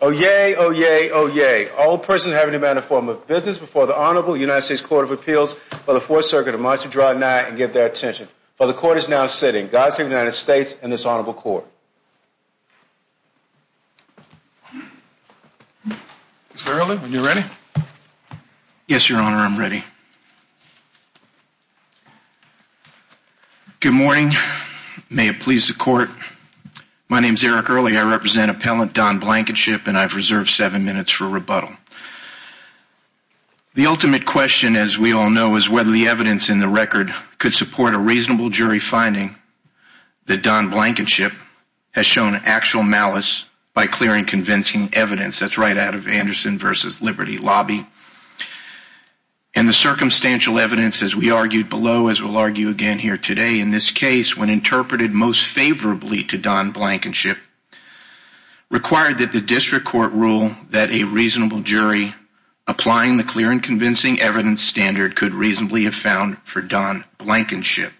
Oh yay, oh yay, oh yay. All persons having a manner of form of business before the Honorable United States Court of Appeals for the Fourth Circuit are admitted to draw a night and give their attention. For the Court is now sitting. God save the United States and this Honorable Court. Mr. Earley, are you ready? Yes, Your Honor, I'm ready. Good morning. May it please the Court. My name's Eric Earley. I represent Appellant Don Blankenship and I've reserved seven minutes for rebuttal. The ultimate question, as we all know, is whether the evidence in the record could support a reasonable jury finding that Don Blankenship has shown actual malice by clearing convincing evidence. That's right out of Anderson v. Liberty Lobby. And the circumstantial evidence, as we argued below, as we'll argue again here today, in this case, when interpreted most favorably to Don Blankenship, required that the district court rule that a reasonable jury applying the clear and convincing evidence standard could reasonably have found for Don Blankenship.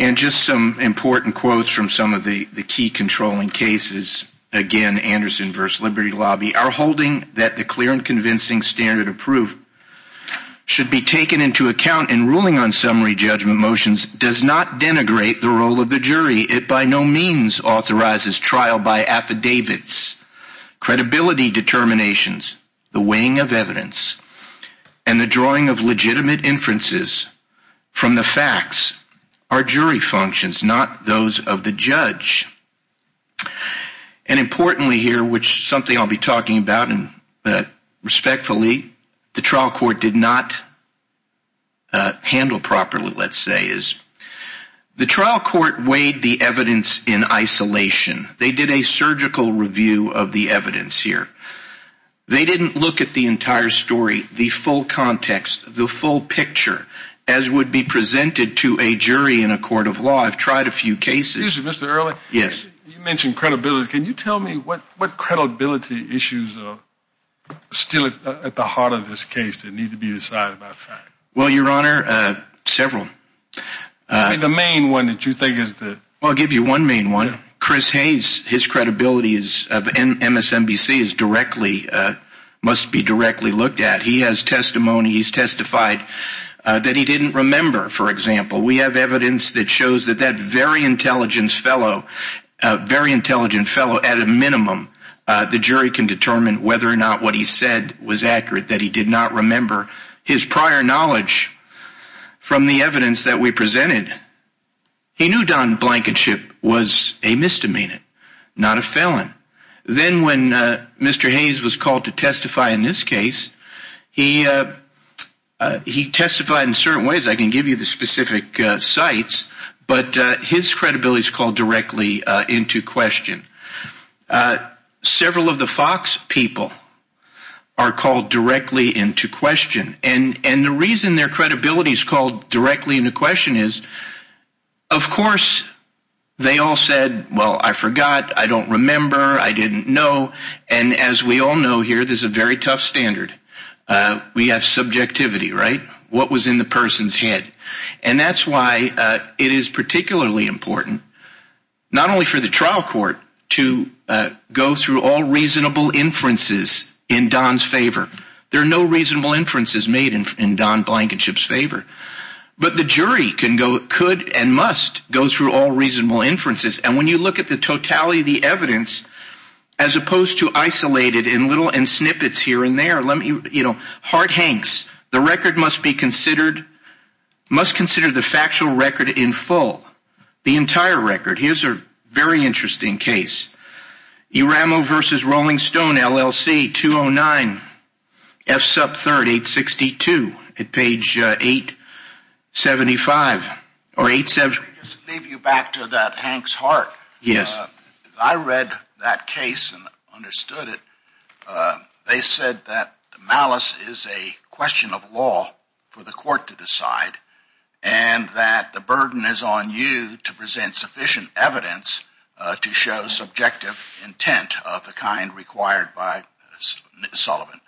And just some important quotes from some of the key controlling cases, again Anderson v. Liberty Lobby, are holding that the clear and convincing standard of proof should be taken into account in ruling on summary judgment motions does not denigrate the role of the jury. It by no means authorizes trial by affidavits. Credibility determinations, the weighing of evidence, and the drawing of legitimate inferences from the facts are jury functions, not those of the judge. And importantly here, which is something I'll be talking about, and respectfully, the trial court did not handle properly, let's say, is the trial court weighed the evidence in isolation. They did a surgical review of the evidence here. They didn't look at the entire story, the full context, the full picture, as would be presented to a jury in a court of law. I've tried a few cases. Excuse me, issues are still at the heart of this case that need to be decided by fact. Well, Your Honor, several. The main one that you think is the... Well, I'll give you one main one. Chris Hayes, his credibility of MSNBC must be directly looked at. He has testimony, he's testified that he didn't remember, for example. We have evidence that shows that that very intelligent fellow, at a minimum, the jury can determine whether or not what he said was accurate, that he did not remember his prior knowledge from the evidence that we presented. He knew Don Blankenship was a misdemeanor, not a felon. Then when Mr. Hayes was called to testify in this case, he testified in certain ways. I can give you the specific sites, but his credibility is called directly into question. Several of the Fox people are called directly into question. And the reason their credibility is called directly into question is, of course, they all said, well, I forgot, I don't remember, I didn't know. And as we all know here, there's a very tough standard. We have subjectivity, right? What was in the person's head? And that's why it is particularly important, not only for the trial court to go through all reasonable inferences in Don's favor. There are no reasonable inferences made in Don Blankenship's favor. But the jury can go, could and must go through all reasonable inferences. And when you look at the totality of the evidence, as opposed to isolated in little snippets here and there, let me, you know, Hart Hanks, the record must be record. Here's a very interesting case. Uramo versus Rolling Stone, LLC, 209 F sub 3862 at page 875 or 87. Leave you back to that Hank's heart. Yes. I read that case and understood it. They said that malice is a question of law for the court to decide and that the burden is on you to present sufficient evidence to show subjective intent of the kind required by Sullivan.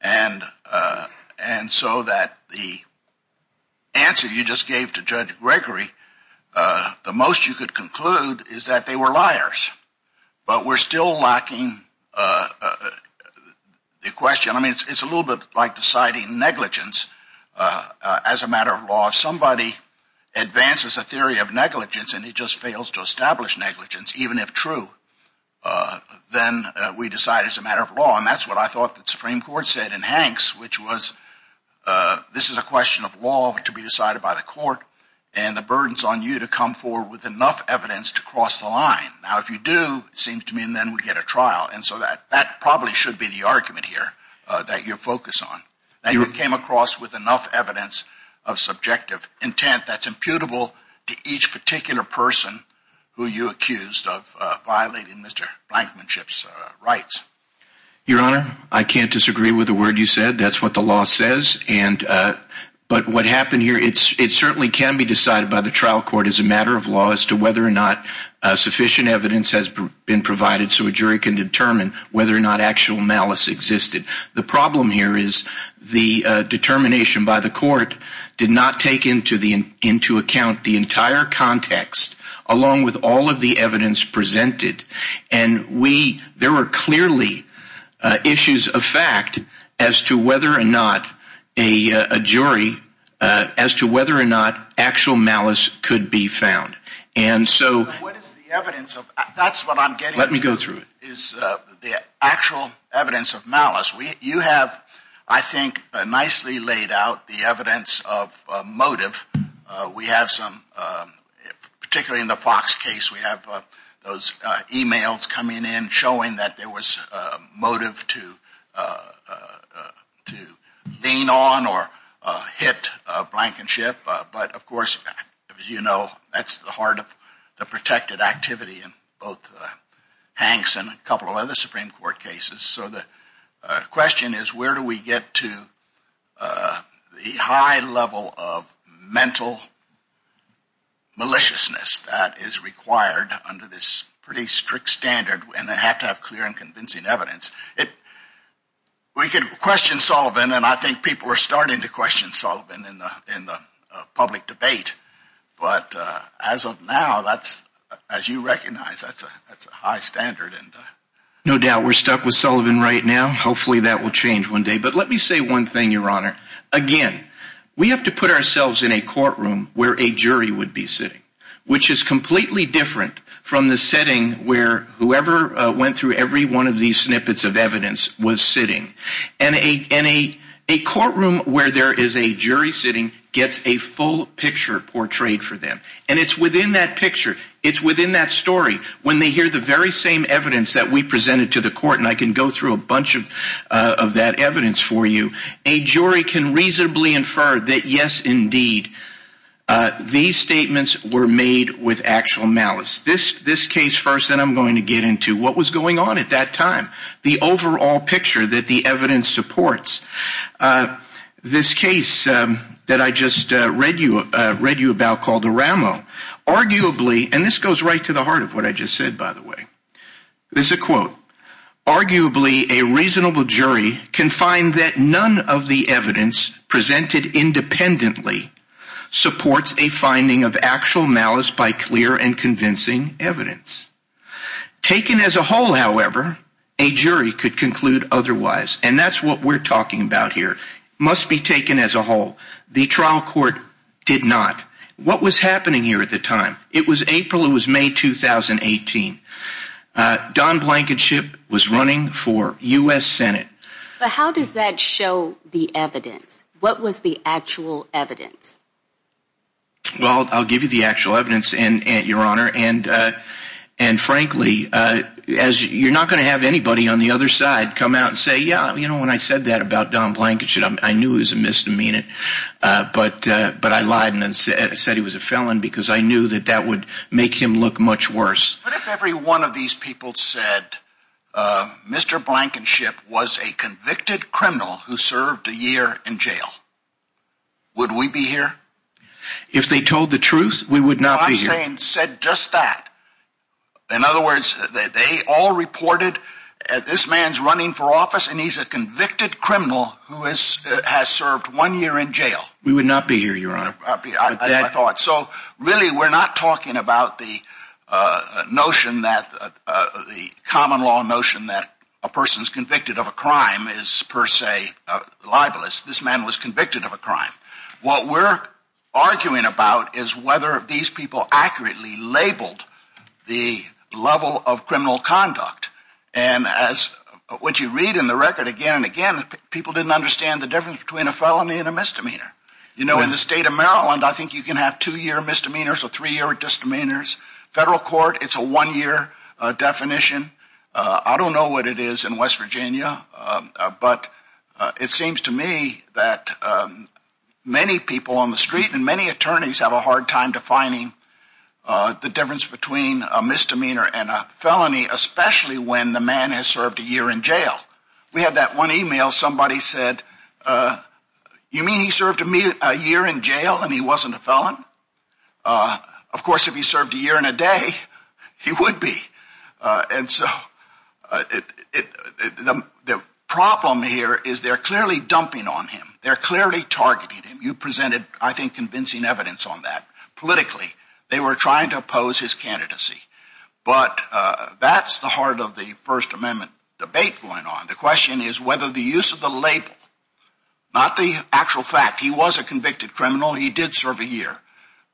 And so that the answer you just gave to Judge Gregory, the most you could conclude is that they were liars. But we're still lacking the question. I mean, it's a little bit like deciding negligence as a matter of law. If somebody advances a theory of negligence and he just fails to establish negligence, even if true, then we decide it's a matter of law. And that's what I thought the Supreme Court said in Hanks, which was this is a question of law to be decided by the court and the burden's on you to come forward with enough evidence to cross the line. Now, if you do, it seems to me, then we get a trial. And so that probably should be the argument here that you're focused on, that you came across with enough evidence of subjective intent that's imputable to each particular person who you accused of violating Mr. Blankenship's rights. Your Honor, I can't disagree with the word you said. That's what the law says. But what happened here, it certainly can be decided by the trial court as a matter of law as to whether or not sufficient evidence has been provided so a jury can determine whether or not actual malice existed. The problem here is the determination by the court did not take into account the entire context along with all of the evidence presented. And we there were clearly issues of fact as to whether or not a jury as to whether or not actual malice could be found. And so what is the evidence of that's what I'm getting to is the actual evidence of malice. You have, I think, nicely laid out the evidence of motive. We have some, particularly in the Fox case, we have those emails coming in showing that there was a motive to lean on or hit Blankenship. But of course, as you know, that's the heart of the protected activity in both Hanks and a couple of other Supreme Court cases. So the question is, where do we get to the high level of mental maliciousness that is required under this pretty strict standard? And they have to have clear and convincing evidence. We could question Sullivan, and I think people are starting to question Sullivan in the public debate. But as of now, that's as you recognize, that's a that's a high standard. And no doubt we're stuck with Sullivan right now. Hopefully that will change one day. But let me say one thing, Your Honor. Again, we have to put ourselves in a courtroom where a jury would be sitting, which is completely different from the setting where whoever went through every one of these snippets of evidence was sitting. And a courtroom where there is a jury sitting gets a full picture portrayed for them. And it's within that picture. It's within that story. When they hear the very same evidence that we presented to the court, and I can go through a bunch of that evidence for you, a jury can reasonably infer that, yes, indeed, these statements were made with actual malice. This case first, then I'm going to get into what was going on at that time, the overall picture that the evidence supports. This case that I just read you about called Aramo, arguably, and this goes right to the heart of what I just said, by the way. There's a quote. Arguably, a reasonable jury can find that none of the evidence presented independently supports a finding of actual malice by clear and convincing evidence. Taken as a whole, however, a jury could conclude otherwise. And that's what we're talking about here. It must be taken as a whole. The trial court did not. What was happening here at the time? It was April. It was May 2018. Don Blankenship was running for U.S. Senate. But how does that show the evidence? What was the actual evidence? Well, I'll give you the actual evidence, Your Honor. And frankly, you're not going to have anybody on the other side come out and say, yeah, you know, when I said that about Don Blankenship, I knew it was a misdemeanor. But I lied and said he was a felon because I knew that that would make him look much worse. But if every one of these people said Mr. Blankenship was a convicted criminal who served a year in jail, would we be here? If they told the truth, we would not be here. I'm saying said just that. In other words, they all reported that this man's running for office and he's a convicted criminal who has served one year in jail. We would not be here, Your Honor. I thought so. Really, we're not talking about the notion that the common law notion that a person is convicted of a crime is per se libelous. This man was convicted of a crime. What we're arguing about is whether these people accurately labeled the level of criminal conduct. And as what you read in the record again and again, people didn't understand the difference between a felony and a misdemeanor. You know, in the state of Maryland, I think you can have two year misdemeanors or three year disdemeanors. Federal court, it's a one year definition. I don't know what it is in West Virginia, but it seems to me that many people on the street and many attorneys have a hard time defining the difference between a misdemeanor and a felony, especially when the man has served a year in jail. We had that one email. Somebody said, you mean he served a year in jail and he wasn't a felon? Of course, if he served a year and a day, he would be. And so the problem here is they're clearly dumping on him. They're clearly targeting him. You presented, I think, convincing evidence on that. Politically, they were trying to oppose his candidacy. But that's the heart of the First Amendment debate going on. The question is whether the use of the label, not the actual fact he was a convicted criminal, he did serve a year.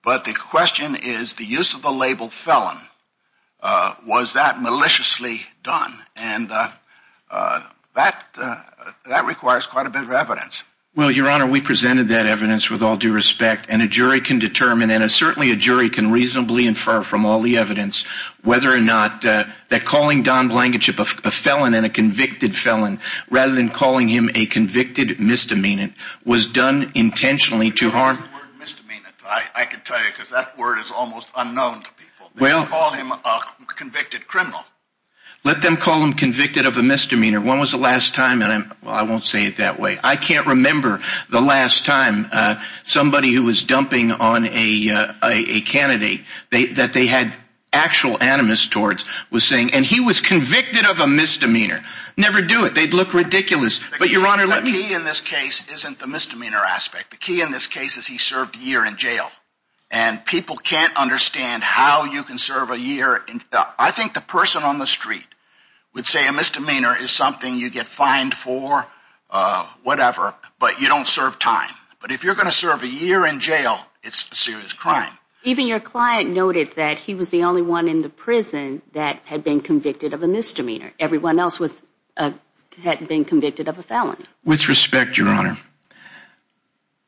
But the question is, the use of the label felon, was that maliciously done? And that that requires quite a bit of evidence. Well, Your Honor, we presented that evidence with all due respect. And a jury can determine and certainly a jury can reasonably infer from all the evidence whether or not that calling Don Blankenship a felon and a convicted felon, rather than calling him a convicted misdemeanor, was done intentionally to harm. The word misdemeanor, I can tell you, because that word is almost unknown to people. They call him a convicted criminal. Let them call him convicted of a misdemeanor. When was the last time? And I won't say it that way. I can't remember the last time somebody who was dumping on a candidate that they had actual animus towards was saying, and he was convicted of a misdemeanor. Never do it. They'd look ridiculous. But Your Honor, the key in this case isn't the misdemeanor aspect. The key in this case is he served a year in jail and people can't understand how you can serve a year. I think the person on the street would say a misdemeanor is something you get fined for, whatever, but you don't serve time. But if you're going to serve a year in jail, it's a serious crime. Even your client noted that he was the only one in the prison that had been convicted of a misdemeanor. Everyone else was had been convicted of a felony. With respect, Your Honor,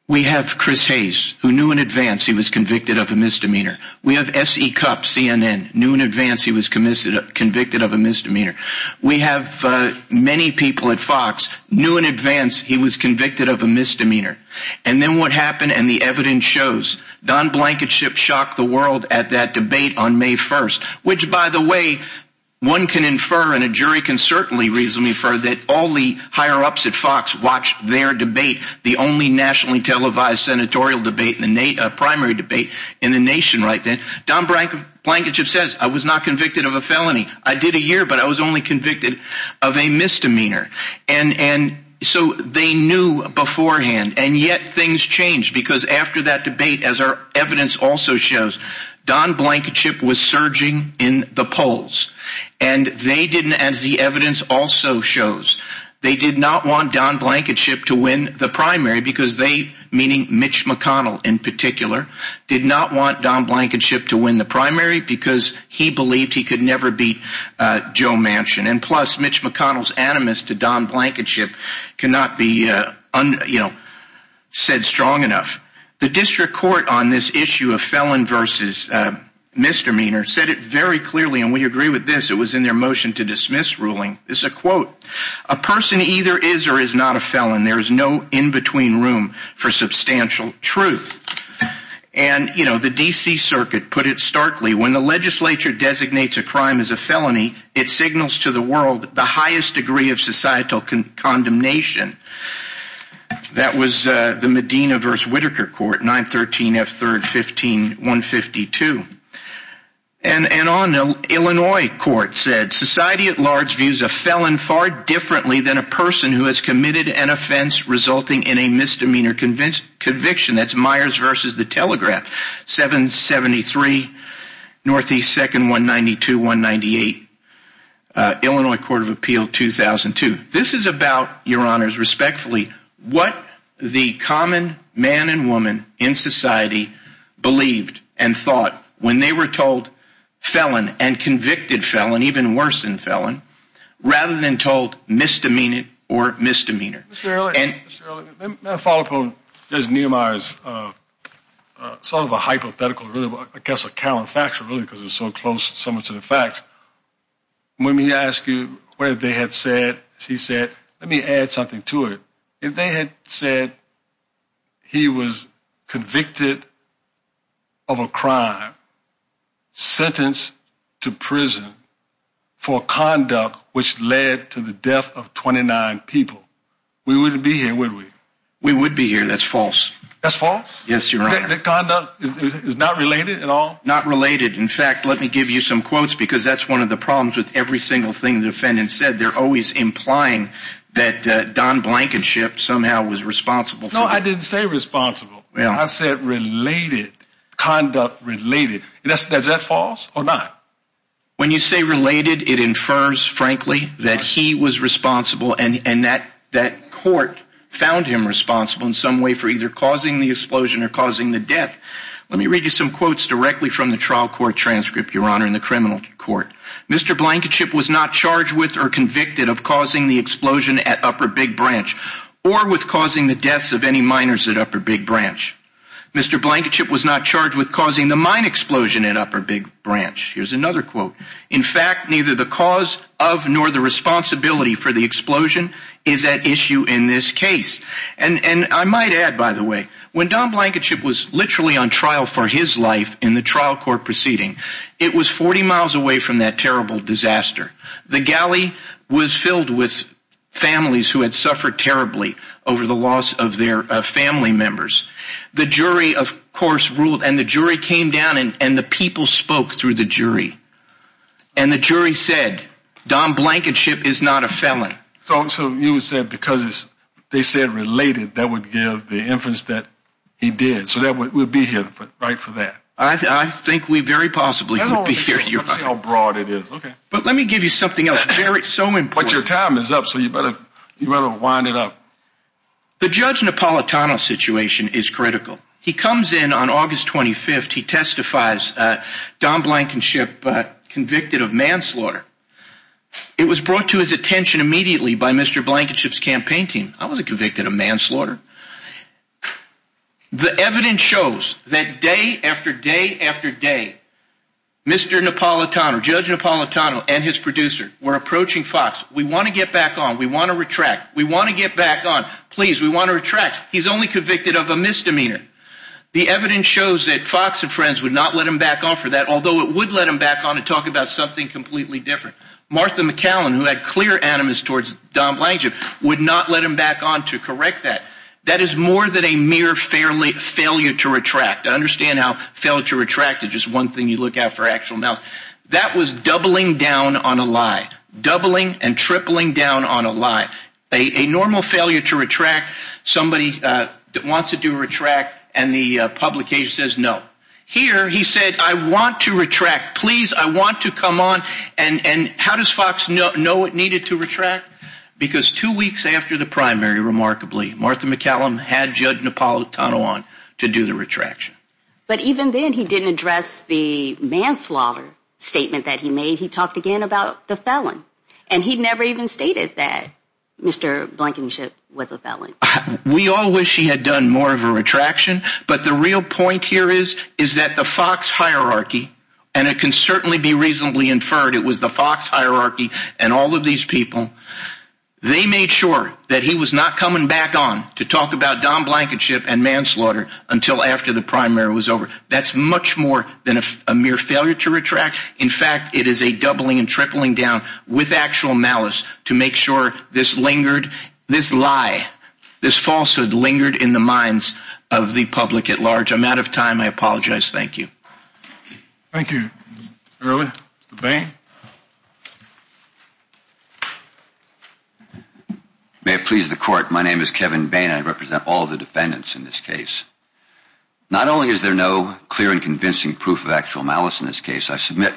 we have Chris Hayes, who knew in advance he was convicted of a misdemeanor. We have S.E. Cupp, CNN, knew in advance he was convicted of a misdemeanor. We have many people at Fox, knew in advance he was convicted of a misdemeanor. And then what happened? And the evidence shows Don Blankenship shocked the world at that debate on May 1st, which, by the way, one can infer and a jury can certainly reasonably infer that all the higher ups at Fox watched their debate. The only nationally televised senatorial debate in the primary debate in the nation right then. Don Blankenship says, I was not convicted of a felony. I did a year, but I was only convicted of a misdemeanor. And so they knew beforehand. And yet things changed because after that debate, as our evidence also shows, Don Blankenship was surging in the polls and they didn't as the evidence also shows. They did not want Don Blankenship to win the primary because they, meaning Mitch McConnell in particular, did not want Don Blankenship to win the primary because he believed he could never beat Joe Manchin. And plus, Mitch McConnell's animus to Don Blankenship cannot be said strong enough. The district court on this issue of felon versus misdemeanor said it very clearly. And we agree with this. It was in their motion to dismiss ruling. It's a quote, a person either is or is not a felon. There is no in-between room for substantial truth. And, you know, the D.C. Circuit put it starkly when the legislature designates a crime as a felony, it signals to the world the highest degree of societal condemnation. That was the Medina versus Whittaker court, 913 F. Third, 15, 152. And on the Illinois court said society at large views a felon far differently than a person who has committed an offense resulting in a misdemeanor conviction. That's Myers versus the Telegraph, 773 Northeast, second, 192, 198, Illinois Court of Appeal, 2002. This is about your honors, respectfully, what the common man and woman in society believed and thought when they were told felon and convicted felon, even worse than felon, rather than told misdemeanor or misdemeanor. And I follow up on Nehemiah's sort of a hypothetical, I guess, a counterfactual, because it's so close, so much of the facts. When we ask you where they had said she said, let me add something to it, if they had said. He was convicted. Of a crime. Sentenced to prison for conduct, which led to the death of 29 people, we wouldn't be here, would we? We would be here. That's false. That's false. Yes, you're right. The conduct is not related at all. Not related. In fact, let me give you some quotes, because that's one of the problems with every single thing the defendant said. They're always implying that Don Blankenship somehow was responsible. No, I didn't say responsible. Well, I said related conduct related. And that's that's that false or not. When you say related, it infers, frankly, that he was responsible and that that court found him responsible in some way for either causing the explosion or causing the death. Let me read you some quotes directly from the trial court transcript, Your Honor, in the criminal court. Mr. Blankenship was not charged with or convicted of causing the explosion at Upper Big Branch or with causing the deaths of any miners at Upper Big Branch. Mr. Blankenship was not charged with causing the mine explosion at Upper Big Branch. Here's another quote. In fact, neither the cause of nor the responsibility for the explosion is at issue in this case. And I might add, by the way, when Don Blankenship was literally on trial for his life in the trial court proceeding, it was 40 miles away from that terrible disaster. The galley was filled with families who had suffered terribly over the loss of their family members. The jury, of course, ruled and the jury came down and the people spoke through the jury and the jury said Don Blankenship is not a felon. So you would say because they said related, that would give the inference that he did. So that would be here right for that. I think we very possibly hear how broad it is. OK, but let me give you something else. Very so important. Your time is up, so you better you better wind it up. The judge Napolitano situation is critical. He comes in on August 25th. He testifies Don Blankenship convicted of manslaughter. It was brought to his attention immediately by Mr. Blankenship's campaign team. I wasn't convicted of manslaughter. The evidence shows that day after day after day, Mr. Napolitano, Judge Napolitano and his producer were approaching Fox. We want to get back on. We want to retract. We want to get back on. Please, we want to retract. He's only convicted of a misdemeanor. The evidence shows that Fox and friends would not let him back off for that, although it would let him back on and talk about something completely different. Martha McCallum, who had clear animus towards Don Blankenship, would not let him back on to correct that. That is more than a mere fairly failure to retract. I understand how failure to retract is just one thing you look at for actual mouth. That was doubling down on a lie, doubling and tripling down on a lie, a normal failure to retract. Somebody that wants to do retract and the publication says no. Here, he said, I want to retract. Please, I want to come on. And how does Fox know it needed to retract? Because two weeks after the primary, remarkably, Martha McCallum had Judge Napolitano on to do the retraction. But even then, he didn't address the manslaughter statement that he made. He talked again about the felon, and he never even stated that Mr. Blankenship was a felon. We all wish he had done more of a retraction. But the real point here is, is that the Fox hierarchy, and it can certainly be reasonably inferred it was the Fox hierarchy and all of these people. They made sure that he was not coming back on to talk about Don Blankenship and manslaughter until after the primary was over. That's much more than a mere failure to retract. In fact, it is a doubling and tripling down with actual malice to make sure this lingered, this lie, this falsehood lingered in the minds of the public at large. I'm out of time. I apologize. Thank you. Thank you, Mr. Early, Mr. Bain. May it please the court. My name is Kevin Bain. I represent all the defendants in this case. Not only is there no clear and convincing proof of actual malice in this case, I submit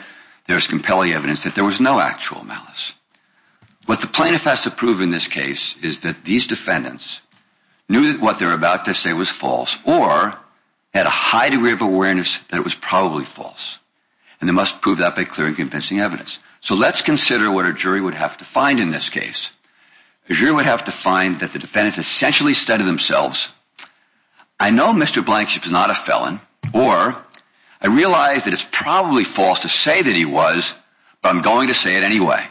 there's compelling evidence that there was no actual malice. What the plaintiff has to prove in this case is that these defendants knew that what they're about to say was false or had a high degree of awareness that it was probably false. And they must prove that by clear and convincing evidence. So let's consider what a jury would have to find in this case. A jury would have to find that the defendants essentially said to themselves, I know Mr. Blankenship is not a felon, or I realize that it's probably false to say that he was, but I'm going to say it anyway.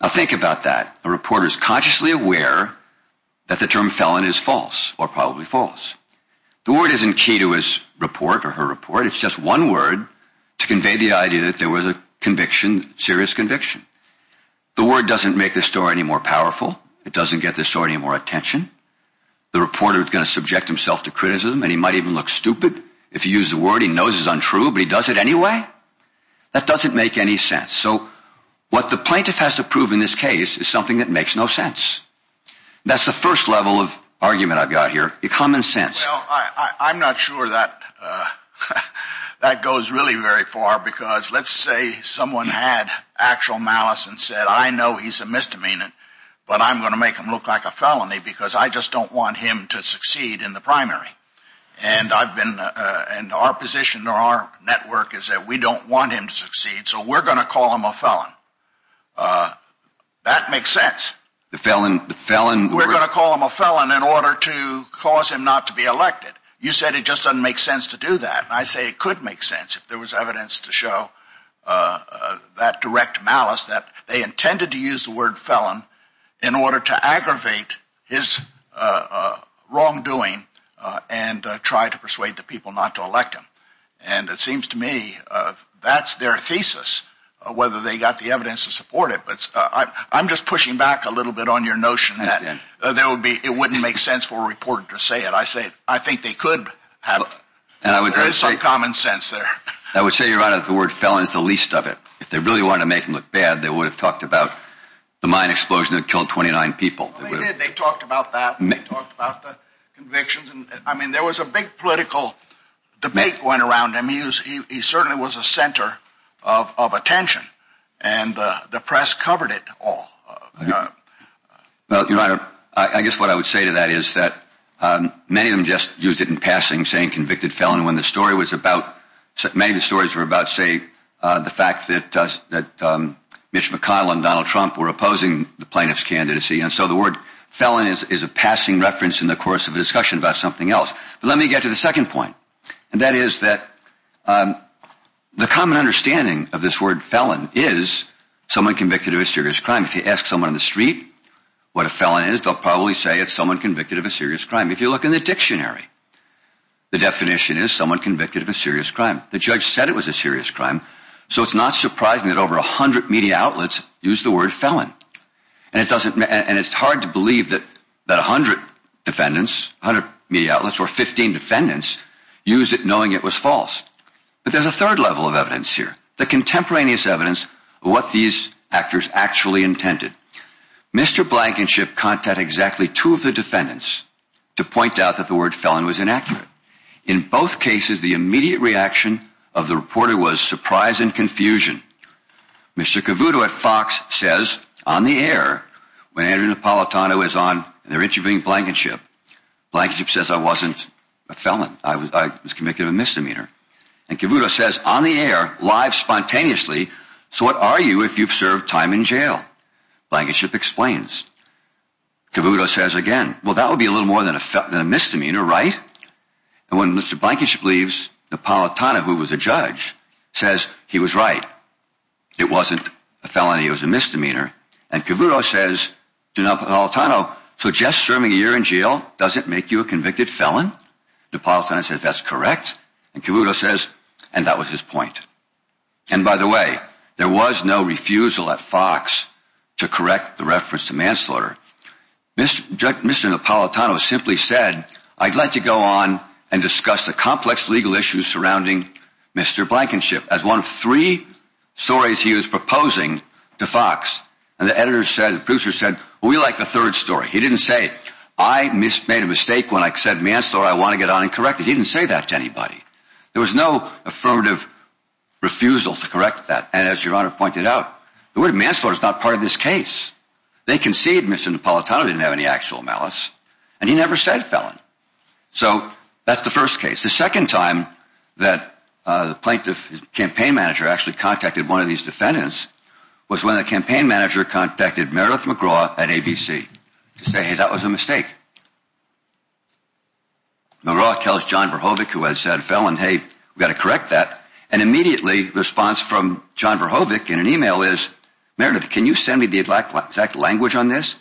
I think about that. A reporter is consciously aware that the term felon is false or probably false. The word isn't key to his report or her report. It's just one word to convey the idea that there was a conviction, serious conviction. The word doesn't make this story any more powerful. It doesn't get this story any more attention. The reporter is going to subject himself to criticism, and he might even look stupid if you use the word he knows is untrue, but he does it anyway. That doesn't make any sense. So what the plaintiff has to prove in this case is something that makes no sense. That's the first level of argument I've got here. The common sense. I'm not sure that that goes really very far, because let's say someone had actual malice and said, I know he's a misdemeanor, but I'm going to make him look like a felony because I just don't want him to succeed in the primary. And I've been and our position or our network is that we don't want him to succeed. So we're going to call him a felon. That makes sense. The felon, the felon. We're going to call him a felon in order to cause him not to be elected. You said it just doesn't make sense to do that. I say it could make sense if there was evidence to show that direct malice, that they intended to use the word felon in order to aggravate his wrongdoing and try to persuade the people not to elect him. And it seems to me that's their thesis, whether they got the evidence to support it. But I'm just pushing back a little bit on your notion that there would be it wouldn't make sense for a reporter to say it. I say, I think they could have some common sense there. I would say, Your Honor, the word felon is the least of it. If they really want to make him look bad, they would have talked about the mine explosion that killed twenty nine people. They talked about that. They talked about the convictions. And I mean, there was a big political debate going around. And he certainly was a center of attention. And the press covered it all. Well, Your Honor, I guess what I would say to that is that many of them just used it in passing, saying convicted felon. And when the story was about many of the stories were about, say, the fact that that Mitch McConnell and Donald Trump were opposing the plaintiff's candidacy. And so the word felon is a passing reference in the course of a discussion about something else. But let me get to the second point, and that is that the common understanding of this word felon is someone convicted of a serious crime. If you ask someone in the street what a felon is, they'll probably say it's someone convicted of a serious crime. If you look in the dictionary, the definition is someone convicted of a serious crime. The judge said it was a serious crime. So it's not surprising that over 100 media outlets use the word felon. And it doesn't. And it's hard to believe that that 100 defendants, 100 media outlets or 15 defendants use it knowing it was false. But there's a third level of evidence here, the contemporaneous evidence of what these actors actually intended. Mr. Blankenship contact exactly two of the defendants to point out that the word felon was inaccurate. In both cases, the immediate reaction of the reporter was surprise and confusion. Mr. Cavuto at Fox says on the air, when Andrew Napolitano is on, they're interviewing Blankenship. Blankenship says, I wasn't a felon. I was convicted of a misdemeanor. And Cavuto says on the air, live spontaneously. So what are you if you've served time in jail? Blankenship explains. Cavuto says again, well, that would be a little more than a misdemeanor, right? And when Mr. Blankenship leaves, Napolitano, who was a judge, says he was right. It wasn't a felony. It was a misdemeanor. And Cavuto says to Napolitano, so just serving a year in jail doesn't make you a convicted felon. Napolitano says that's correct. And Cavuto says, and that was his point. And by the way, there was no refusal at Fox to correct the reference to manslaughter. Mr. Napolitano simply said, I'd like to go on and discuss the complex legal issues surrounding Mr. Blankenship as one of three stories he was proposing to Fox. And the editors said, the producer said, we like the third story. He didn't say, I made a mistake when I said manslaughter, I want to get on and correct it. He didn't say that to anybody. There was no affirmative refusal to correct that. And as your honor pointed out, the word manslaughter is not part of this case. They concede Mr. Napolitano didn't have any actual malice and he never said felon. So that's the first case. The second time that the plaintiff campaign manager actually contacted one of these defendants was when the campaign manager contacted Meredith McGraw at ABC to say, hey, that was a mistake. McGraw tells John Verhovic, who has said felon, hey, we've got to correct that. And immediately response from John Verhovic in an email is, Meredith, can you send me the exact language on this?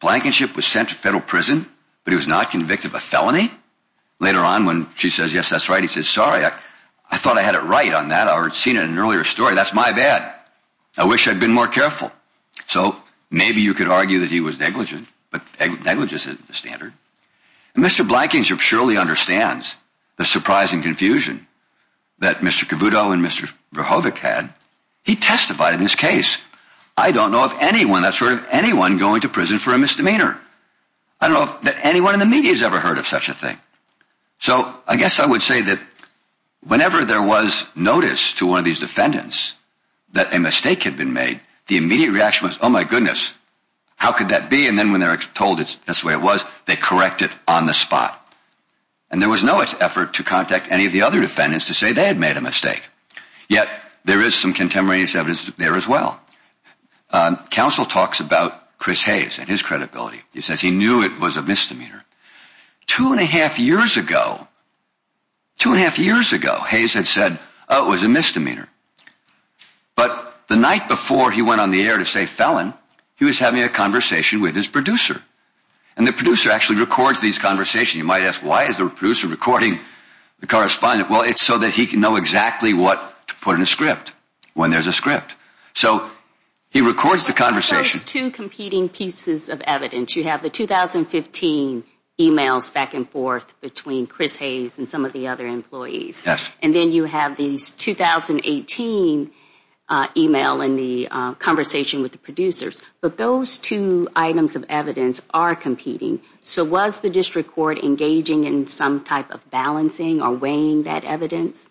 Blankenship was sent to federal prison, but he was not convicted of a felony. Later on, when she says, yes, that's right, he says, sorry, I thought I had it right on that. I had seen it in an earlier story. That's my bad. I wish I'd been more careful. So maybe you could argue that he was negligent, but negligence isn't the standard. And Mr. Blankenship surely understands the surprise and confusion that Mr. Cavuto and Mr. Verhovic had. He testified in this case. I don't know of anyone that's heard of anyone going to prison for a misdemeanor. I don't know that anyone in the media has ever heard of such a thing. So I guess I would say that whenever there was notice to one of these defendants that a mistake had been made, the immediate reaction was, oh, my goodness, how could that be? And then when they're told it's this way, it was they correct it on the spot. And there was no effort to contact any of the other defendants to say they had made a mistake. Yet there is some contemporaneous evidence there as well. Counsel talks about Chris Hayes and his credibility. He says he knew it was a misdemeanor. Two and a half years ago, two and a half years ago, Hayes had said it was a misdemeanor. But the night before he went on the air to say felon, he was having a conversation with his producer and the producer actually records these conversations. You might ask, why is the producer recording the correspondent? Well, it's so that he can know exactly what to put in a script when there's a script. So he records the conversation. But there's two competing pieces of evidence. You have the 2015 emails back and forth between Chris Hayes and some of the other employees. Yes. And then you have these 2018 email in the conversation with the producers. But those two items of evidence are competing. So was the district court engaging in some type of balancing or weighing that evidence?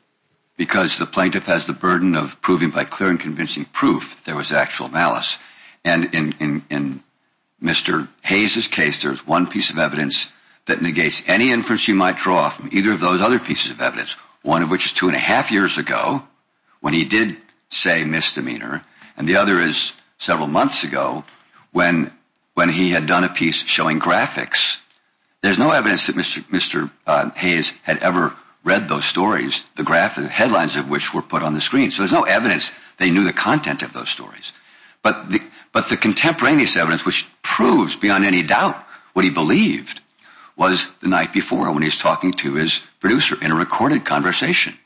Because the plaintiff has the burden of proving by clear and convincing proof there was actual malice. And in Mr. Hayes's case, there's one piece of evidence that negates any inference you might draw from either of those other pieces of evidence, one of which is two and a half years ago when he did say misdemeanor. And the other is several months ago when he had done a piece showing graphics. There's no evidence that Mr. Hayes had ever read those stories, the graphic headlines of which were put on the screen. So there's no evidence they knew the content of those stories. But the contemporaneous evidence, which proves beyond any doubt what he believed, was the night before when he was talking to his producer in a recorded conversation.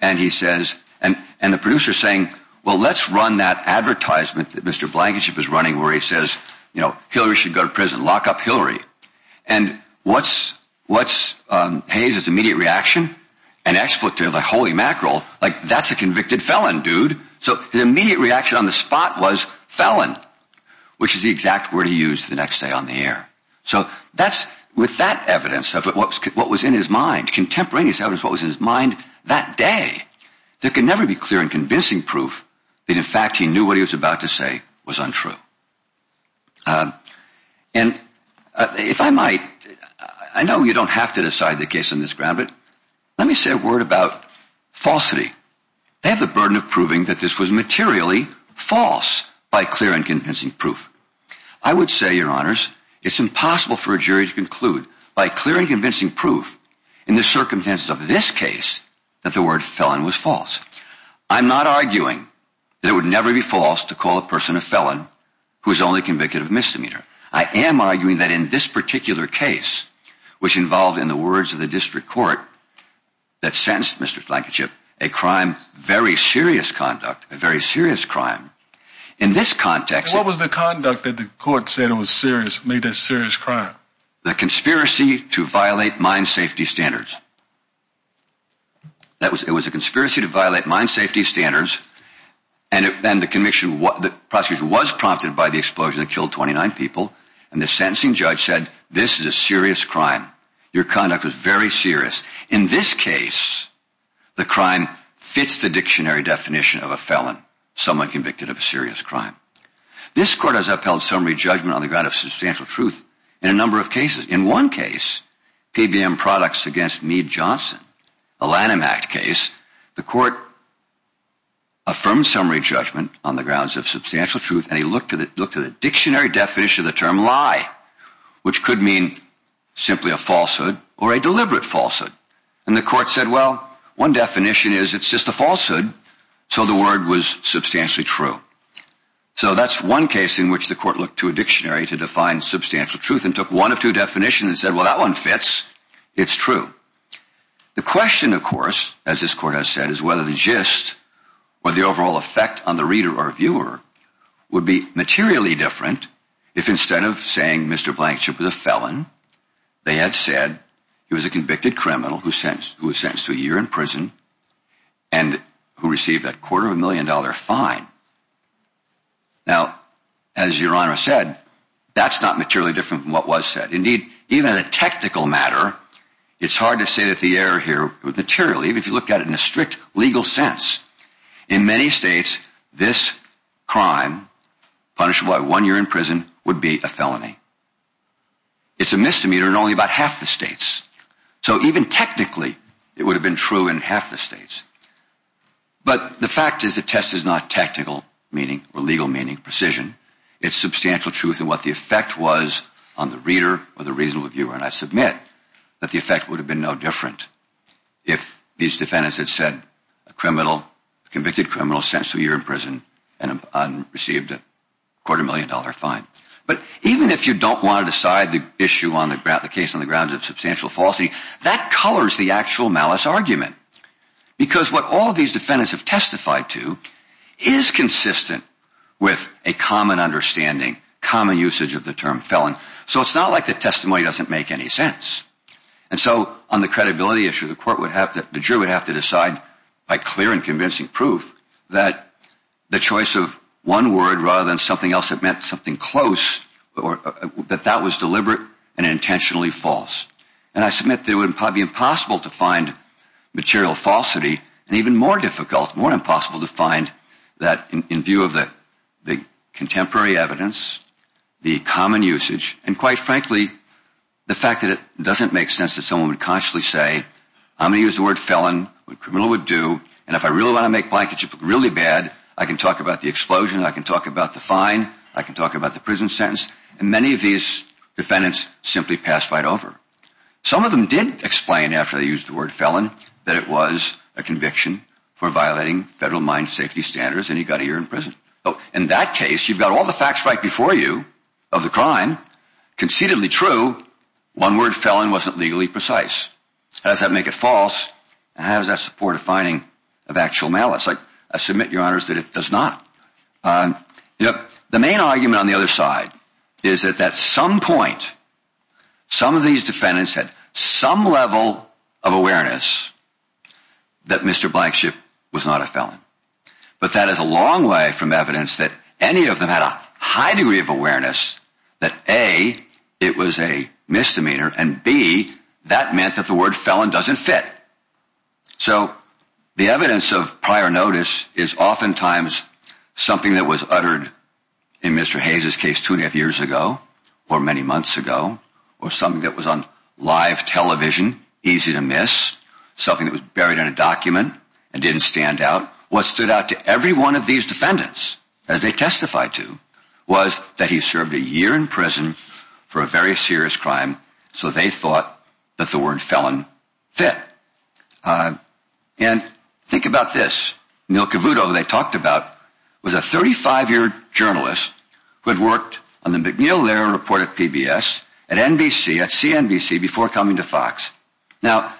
And he says, and the producer saying, well, let's run that advertisement that Mr. Blankenship is running, where he says, you know, Hillary should go to prison, lock up Hillary. And what's Hayes's immediate reaction? An expletive, a holy mackerel, like that's a convicted felon, dude. So his immediate reaction on the spot was felon, which is the exact word he used the next day on the air. So that's with that evidence of what was in his mind, contemporaneous evidence of what was in his mind that day, there can never be clear and convincing proof that, in fact, he knew what he was about to say was untrue. And if I might, I know you don't have to decide the case on this ground, but let me say a word about falsity. They have the burden of proving that this was materially false by clear and convincing proof. I would say, Your Honors, it's impossible for a jury to conclude by clear and convincing proof in the circumstances of this case that the word felon was false. I'm not arguing that it would never be false to call a person a felon who is only convicted of misdemeanor. I am arguing that in this particular case, which involved, in the words of the district court that sentenced Mr. Blankenship, a crime, very serious conduct, a very serious crime in this context. What was the conduct that the court said was serious, made a serious crime? The conspiracy to violate mine safety standards. That was it was a conspiracy to violate mine safety standards. And then the conviction was prompted by the explosion that killed 29 people. And the sentencing judge said, This is a serious crime. Your conduct was very serious. In this case, the crime fits the dictionary definition of a felon, someone convicted of a serious crime. This court has upheld summary judgment on the ground of substantial truth in a number of cases. In one case, PBM Products against Meade Johnson, a Lanham Act case. The court affirmed summary judgment on the grounds of substantial truth. And he looked at it, looked at a dictionary definition of the term lie, which could mean simply a falsehood or a deliberate falsehood. And the court said, Well, one definition is it's just a falsehood. So the word was substantially true. So that's one case in which the court looked to a dictionary to define substantial truth and took one of two definitions and said, Well, that one fits. It's true. The question, of course, as this court has said, is whether the gist or the overall effect on the reader or viewer would be materially different. If instead of saying Mr. Blankenship was a felon, they had said he was a convicted criminal who was sentenced to a year in prison and who received a quarter of a million dollar fine. Now, as your honor said, that's not materially different from what was said. Indeed, even in a technical matter, it's hard to say that the error here would materially, if you look at it in a strict legal sense. In many states, this crime punishable by one year in prison would be a felony. It's a misdemeanor in only about half the states. So even technically, it would have been true in half the states. But the fact is the test is not tactical meaning or legal meaning precision. It's substantial truth in what the effect was on the reader or the reasonable viewer. And I submit that the effect would have been no different if these defendants had said a criminal, convicted criminal sentenced to a year in prison and received a quarter million dollar fine. But even if you don't want to decide the issue on the case on the grounds of substantial falsity, that colors the actual malice argument. Because what all of these defendants have testified to is consistent with a common understanding, common usage of the term felon. So it's not like the testimony doesn't make any sense. And so on the credibility issue, the court would have to, the juror would have to decide by clear and convincing proof that the choice of one word rather than something else that meant something close or that that was deliberate and intentionally false. And I submit that it would probably be impossible to find material falsity and even more difficult, more impossible to find that in view of the contemporary evidence, the common usage, and quite frankly, the fact that it doesn't make sense that someone would consciously say, I'm going to use the word felon, what a criminal would do, and if I really want to make my case really bad, I can talk about the explosion, I can talk about the fine, I can talk about the prison sentence, and many of these defendants simply pass right over. Some of them didn't explain after they used the word felon that it was a conviction for violating federal mine safety standards and he got a year in prison. So in that case, you've got all the facts right before you of the crime, concededly true, one word felon wasn't legally precise. How does that make it false? How does that support a finding of actual malice? I submit, Your Honors, that it does not. The main argument on the other side is that at some point, some of these defendants had some level of awareness that Mr. Blankenship was not a felon. But that is a long way from evidence that any of them had a high degree of awareness that A, it was a misdemeanor, and B, that meant that the word felon doesn't fit. So the evidence of prior notice is oftentimes something that was uttered in Mr. Hayes' case two and a half years ago, or many months ago, or something that was on live television, easy to miss, something that was buried in a document and didn't stand out. What stood out to every one of these defendants, as they testified to, was that he served a year in prison for a very serious crime. So they thought that the word felon fit. And think about this. Neil Cavuto, they talked about, was a 35 year journalist who had worked on the McNeil-Lehrer report at PBS, at NBC, at CNBC before coming to Fox. Now,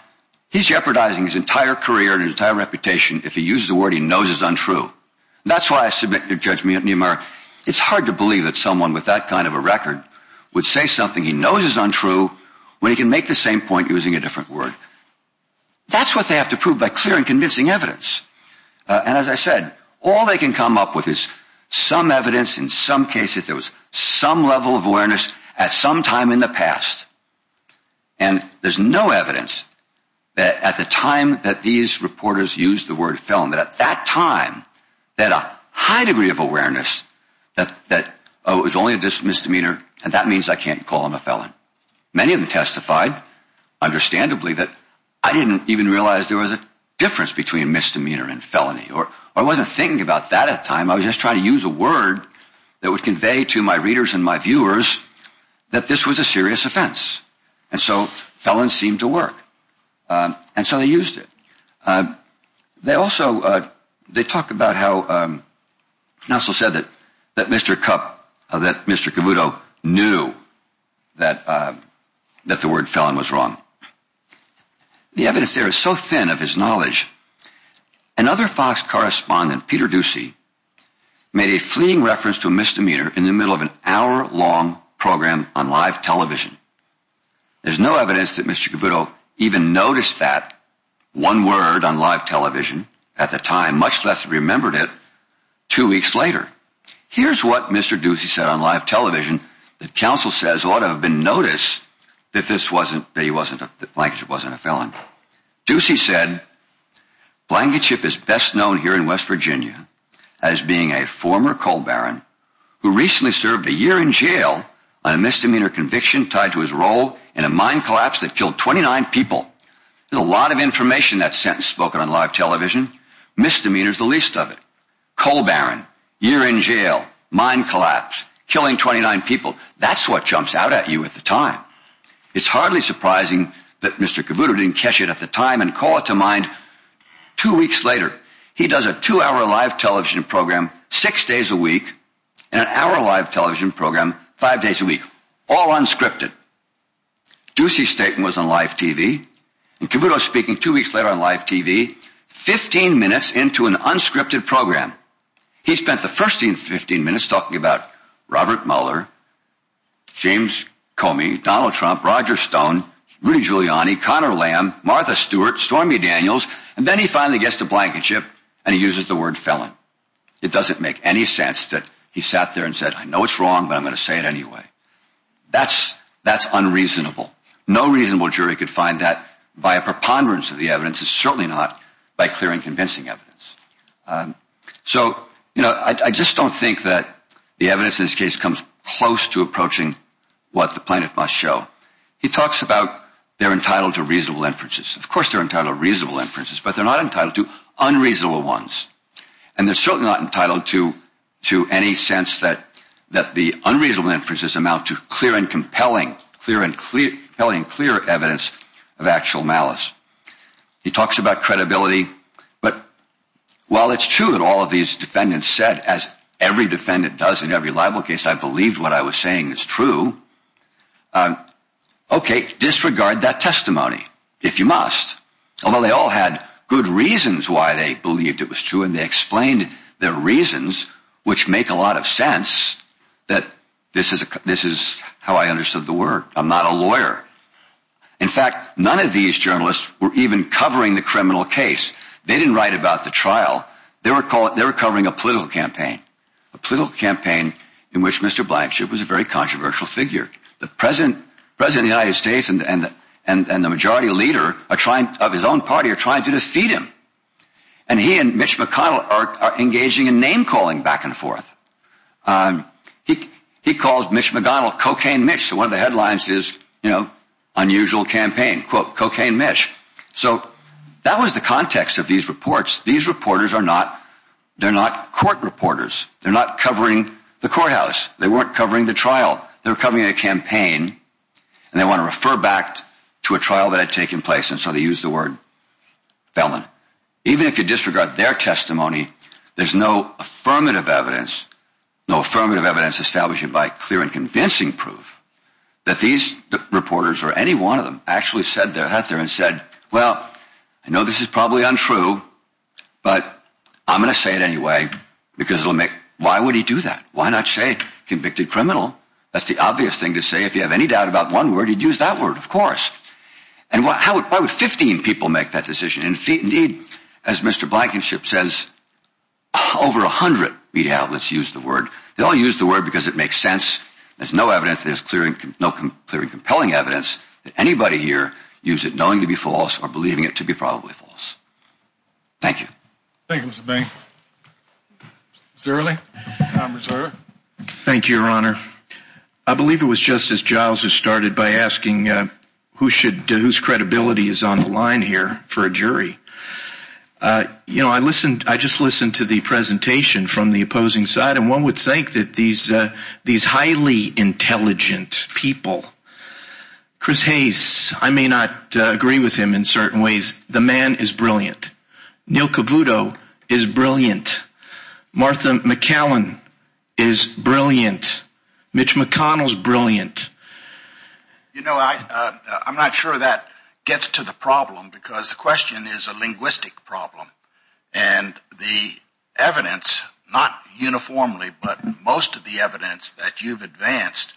he's jeopardizing his entire career and his entire reputation if he uses a word he knows is untrue. That's why I submit to Judge Niemeyer, it's hard to believe that someone with that kind of a record would say something he knows is untrue when he can make the same point using a different word. That's what they have to prove by clear and convincing evidence. And as I said, all they can come up with is some evidence, in some cases, there was some level of awareness at some time in the past. And there's no evidence that at the time that these reporters used the word felon, that at that time, they had a high degree of awareness that, oh, it was only a misdemeanor and that means I can't call him a felon. Many of them testified, understandably, that I didn't even realize there was a difference between misdemeanor and felony. Or I wasn't thinking about that at the time, I was just trying to use a word that would convey to my readers and my viewers that this was a serious offense. And so felon seemed to work. And so they used it. They also, they talk about how, Nelson said that Mr. Cabuto knew that the word felon was wrong. The evidence there is so thin of his knowledge. Another Fox correspondent, Peter Ducey, made a fleeting reference to a misdemeanor in the middle of an hour-long program on live television. There's no evidence that Mr. Cabuto even noticed that one word on live television at the time, much less remembered it two weeks later. Here's what Mr. Ducey said on live television that counsel says ought to have been noticed that this wasn't, that he wasn't, that Blankage wasn't a felon. Ducey said, Blankage is best known here in West Virginia as being a former coal baron who recently served a year in jail on a misdemeanor conviction tied to his role in a mine collapse that killed 29 people. There's a lot of information that sentence spoken on live television. Misdemeanor is the least of it. Coal baron, year in jail, mine collapse, killing 29 people. That's what jumps out at you at the time. It's hardly surprising that Mr. Cabuto didn't catch it at the time and call it to mind two weeks later. He does a two-hour live television program six days a week and an hour live television program five days a week, all unscripted. Ducey's statement was on live TV and Cabuto speaking two weeks later on live TV, 15 minutes into an unscripted program. He spent the first 15 minutes talking about Robert Mueller, James Comey, Donald Trump, Roger Stone, Rudy Giuliani, Conor Lamb, Martha Stewart, Stormy Daniels, and then he finally gets to Blankenship and he uses the word felon. It doesn't make any sense that he sat there and said, I know it's wrong, but I'm going to say it anyway. That's, that's unreasonable. No reasonable jury could find that by a preponderance of the evidence and certainly not by clearing convincing evidence. So, you know, I just don't think that the evidence in this case comes close to approaching what the plaintiff must show. He talks about they're entitled to reasonable inferences. Of course, they're entitled to reasonable inferences, but they're not entitled to unreasonable ones. And they're certainly not entitled to, to any sense that, that the unreasonable inferences amount to clear and compelling, clear and clear, compelling, clear evidence of actual malice. He talks about credibility, but while it's true that all of these defendants said, as every defendant does in every libel case, I believed what I was saying is true. Okay, disregard that testimony if you must. Although they all had good reasons why they believed it was true and they explained their reasons, which make a lot of sense that this is a, this is how I understood the word. I'm not a lawyer. In fact, none of these journalists were even covering the criminal case. They didn't write about the trial. They were called, they were covering a political campaign, a political campaign in which Mr. Blankship was a very controversial figure. The President, President of the United States and, and, and the majority leader are trying, of his own party, are trying to defeat him. And he and Mitch McConnell are engaging in name calling back and forth. He, he calls Mitch McConnell cocaine Mitch. One of the headlines is, you know, unusual campaign, quote, cocaine Mitch. So that was the context of these reports. These reporters are not, they're not court reporters. They're not covering the courthouse. They weren't covering the trial. They were covering a campaign and they want to refer back to a trial that had taken place. And so they use the word felon. Even if you disregard their testimony, there's no affirmative evidence, no affirmative evidence established by clear and convincing proof that these reporters or any one of them actually said that there and said, well, I know this is probably untrue, but I'm going to say it anyway because it'll make, why would he do that? Why not say convicted criminal? That's the obvious thing to say. If you have any doubt about one word, you'd use that word. Of course. And how would, why would 15 people make that decision? Indeed, as Mr. Blankenship says, over a hundred media outlets use the word. They only use the word because it makes sense. There's no evidence. There's clear and no clear and compelling evidence that anybody here use it knowing to be false or believing it to be probably false. Thank you. Thank you, Mr. Bain. Mr. Early, time reserved. Thank you, Your Honor. I believe it was Justice Giles who started by asking who should, whose credibility is on the line here for a jury. You know, I listened, I just listened to the presentation from the opposing side and one would think that these, uh, these highly intelligent people, Chris Hayes, I may not agree with him in certain ways. The man is brilliant. Neil Cavuto is brilliant. Martha McAllen is brilliant. Mitch McConnell's brilliant. You know, I, uh, I'm not sure that gets to the problem because the question is a linguistic problem and the evidence, not uniformly, but most of the evidence that you've advanced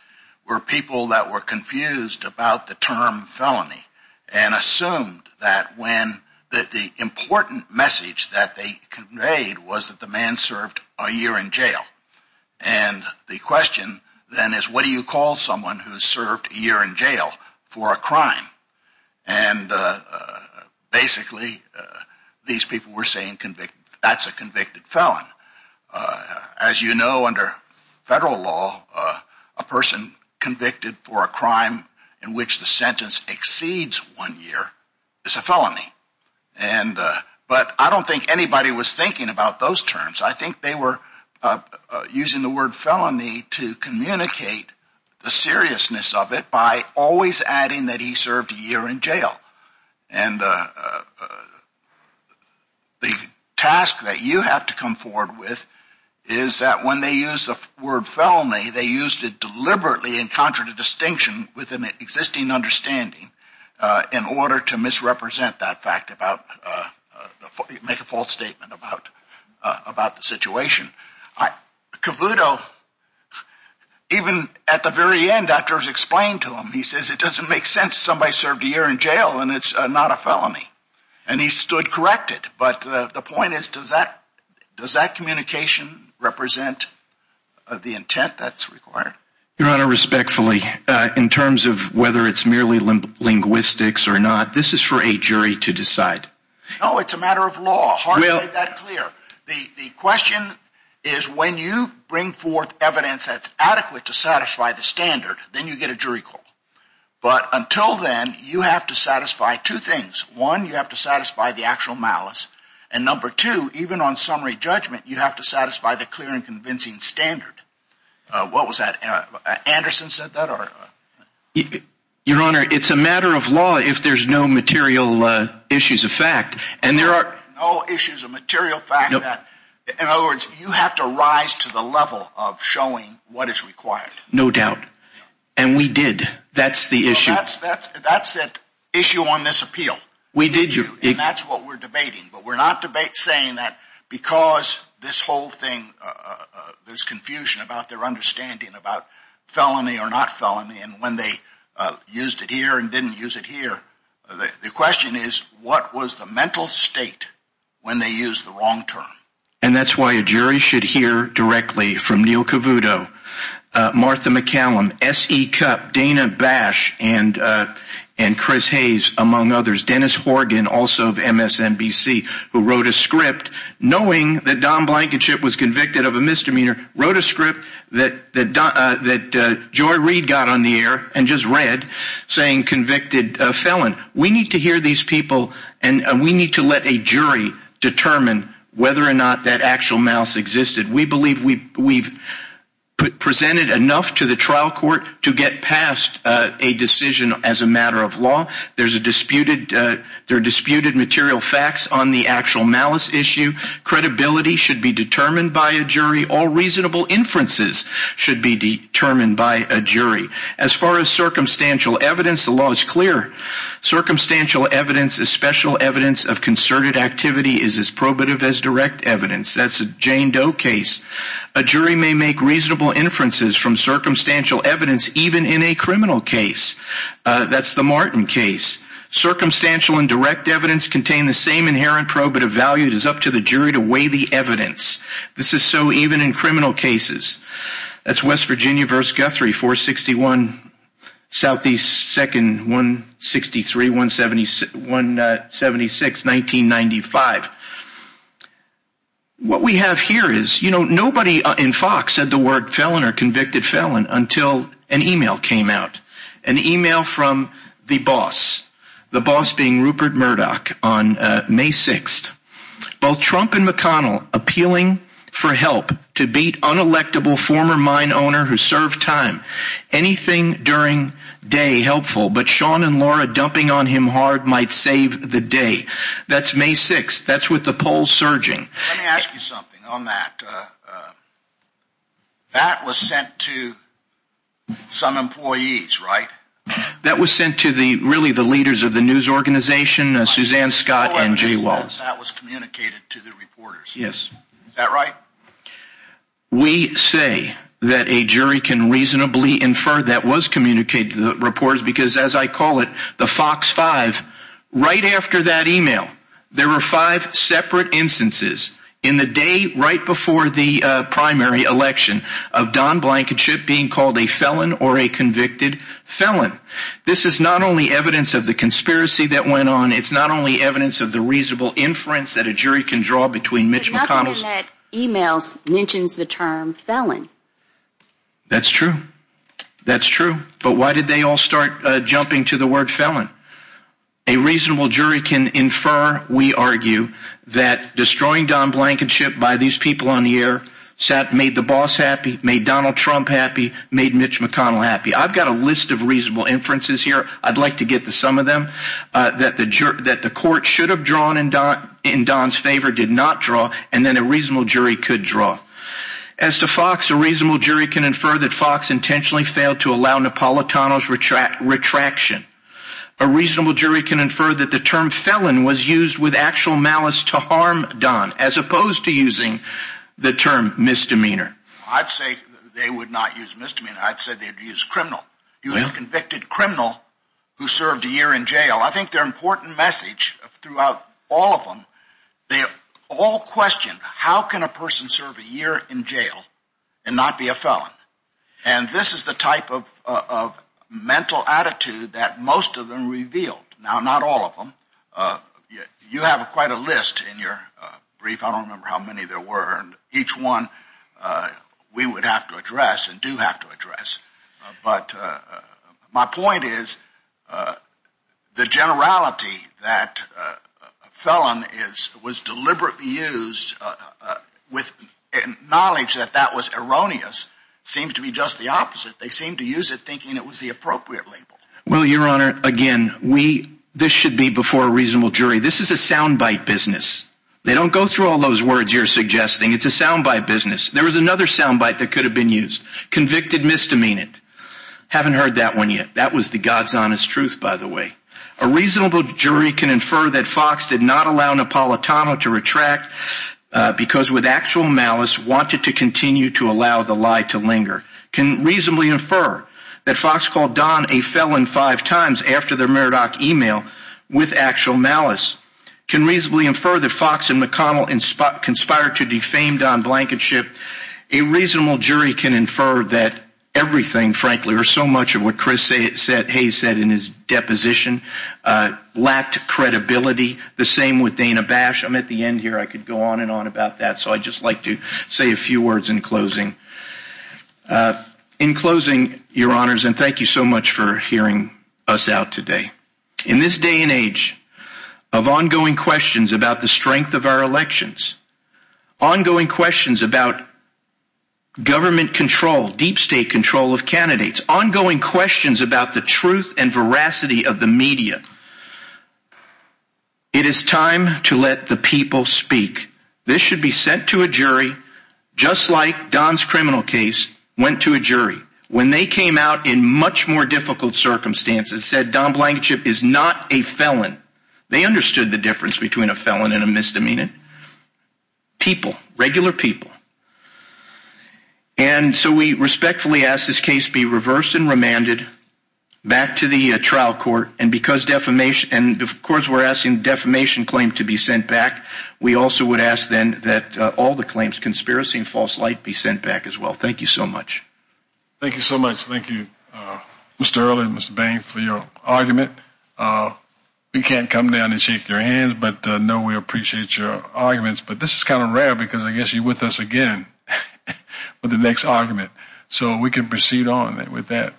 were people that were confused about the term felony and assumed that when, that the important message that they conveyed was that the man served a year in jail. And the question then is what do you call someone who served a year in jail for a crime? And, uh, uh, basically, uh, these people were saying convicted, that's a convicted felon. Uh, as you know, under federal law, uh, a person convicted for a crime in which the sentence exceeds one year is a felony. And, uh, but I don't think anybody was thinking about those terms. I think they were, uh, uh, using the word felony to communicate the seriousness of it by always adding that he served a year in jail. And, uh, uh, uh, the task that you have to come forward with is that when they use the word felony, they used it deliberately in contradistinction with an existing understanding, uh, in order to misrepresent that fact about, uh, uh, make a false statement about, uh, about the situation. Cavuto, even at the very end, after it was explained to him, he says, it doesn't make sense. Somebody served a year in jail and it's not a felony. And he stood corrected. But the point is, does that, does that communication represent the intent that's required? Your Honor, respectfully, uh, in terms of whether it's merely linguistics or not, this is for a jury to decide. Oh, it's a matter of law. Well, the, the question is when you bring forth evidence that's adequate to satisfy the standard, then you get a jury call. But until then you have to satisfy two things. One, you have to satisfy the actual malice. And number two, even on summary judgment, you have to satisfy the clear and convincing standard. What was that? Anderson said that, or? Your Honor, it's a matter of law if there's no material, uh, issues of fact, and there are no issues of material fact that, in other words, you have to rise to the level of showing what is required. No doubt. And we did. That's the issue. That's, that's, that's that issue on this appeal. We did you, and that's what we're debating. But we're not debate saying that because this whole thing, uh, uh, there's confusion about their understanding about felony or not felony. And when they, uh, used it here and didn't use it here, the question is what was the state when they used the wrong term? And that's why a jury should hear directly from Neil Cavuto, uh, Martha McCallum, S.E. Cup, Dana Bash, and, uh, and Chris Hayes, among others, Dennis Horgan, also of MSNBC, who wrote a script knowing that Don Blankenship was convicted of a misdemeanor, wrote a script that, that, uh, that, uh, Joy Reed got on the air and just read saying convicted, uh, felon. We need to hear these people and we need to let a jury determine whether or not that actual malice existed. We believe we, we've presented enough to the trial court to get past, uh, a decision as a matter of law. There's a disputed, uh, there are disputed material facts on the actual malice issue. Credibility should be determined by a jury. All reasonable inferences should be determined by a jury. As far as circumstantial evidence, the law is clear. Circumstantial evidence is special evidence of concerted activity is as probative as direct evidence. That's a Jane Doe case. A jury may make reasonable inferences from circumstantial evidence even in a criminal case. That's the Martin case. Circumstantial and direct evidence contain the same inherent probative value. It is up to the jury to weigh the evidence. This is so even in criminal cases. That's West Virginia versus Guthrie, 461 Southeast 2nd, 163, 176, 1995. What we have here is, you know, nobody in Fox said the word felon or convicted felon until an email came out. An email from the boss, the boss being Rupert Murdoch on May 6th. Both Trump and McConnell appealing for help to beat unelectable former mine owner who served time. Anything during day helpful, but Sean and Laura dumping on him hard might save the day. That's May 6th. That's with the polls surging. Let me ask you something on that. That was sent to some employees, right? That was sent to the really the leaders of the news organization, Suzanne Scott and Jay communicated to the reporters. Yes. Is that right? We say that a jury can reasonably infer that was communicated to the reporters because as I call it, the Fox five right after that email, there were five separate instances in the day right before the primary election of Don Blankenship being called a felon or a convicted felon. This is not only evidence of the conspiracy that went on. It's not only evidence of the reasonable inference that a jury can draw between Mitch McConnell's emails mentions the term felon. That's true. That's true. But why did they all start jumping to the word felon? A reasonable jury can infer. We argue that destroying Don Blankenship by these people on the air sat, made the boss happy, made Donald Trump happy, made Mitch McConnell happy. I've got a list of reasonable inferences here. I'd like to get to some of them that the jury, that the court should have drawn in Don in Don's favor, did not draw. And then a reasonable jury could draw. As to Fox, a reasonable jury can infer that Fox intentionally failed to allow Napolitano's retraction. A reasonable jury can infer that the term felon was used with actual malice to harm Don as opposed to using the term misdemeanor. I'd say they would not use misdemeanor. I'd say they'd use criminal. You have convicted criminal who served a year in jail. I think their important message throughout all of them, they all questioned how can a person serve a year in jail and not be a felon? And this is the type of mental attitude that most of them revealed. Now, not all of them. You have quite a list in your brief. I don't remember how many there were. And each one we would have to address and do have to address. But my point is the generality that felon is was deliberately used with knowledge that that was erroneous seems to be just the opposite. They seem to use it thinking it was the appropriate label. Well, Your Honor, again, we this should be before a reasonable jury. This is a soundbite business. They don't go through all those words you're suggesting. It's a soundbite business. There was another soundbite that could have been used. Convicted misdemeanant. Haven't heard that one yet. That was the God's honest truth, by the way. A reasonable jury can infer that Fox did not allow Napolitano to retract because with actual malice wanted to continue to allow the lie to linger. Can reasonably infer that Fox called Don a felon five times after their Murdoch email with actual malice. Can reasonably infer that Fox and McConnell conspired to defame Don Blankenship. A reasonable jury can infer that everything, frankly, or so much of what Chris Hayes said in his deposition lacked credibility. The same with Dana Bash. I'm at the end here. I could go on and on about that. So I'd just like to say a few words in closing. In closing, Your Honors, and thank you so much for hearing us out today. In this day and age of ongoing questions about the strength of our elections, ongoing questions about government control, deep state control of candidates, ongoing questions about the truth and veracity of the media. It is time to let the people speak. This should be sent to a jury just like Don's criminal case went to a jury when they came out in much more difficult circumstances, said Don Blankenship is not a felon. They understood the difference between a felon and a misdemeanant. People, regular people. And so we respectfully ask this case be reversed and remanded back to the trial court. And because defamation, and of course, we're asking defamation claim to be sent back. We also would ask then that all the claims conspiracy and false light be sent back as well. Thank you so much. Thank you so much. Thank you, Mr. Earle and Mr. Bain for your argument. We can't come down and shake your hands, but know we appreciate your arguments. But this is kind of rare because I guess you're with us again for the next argument. So we can proceed on with that.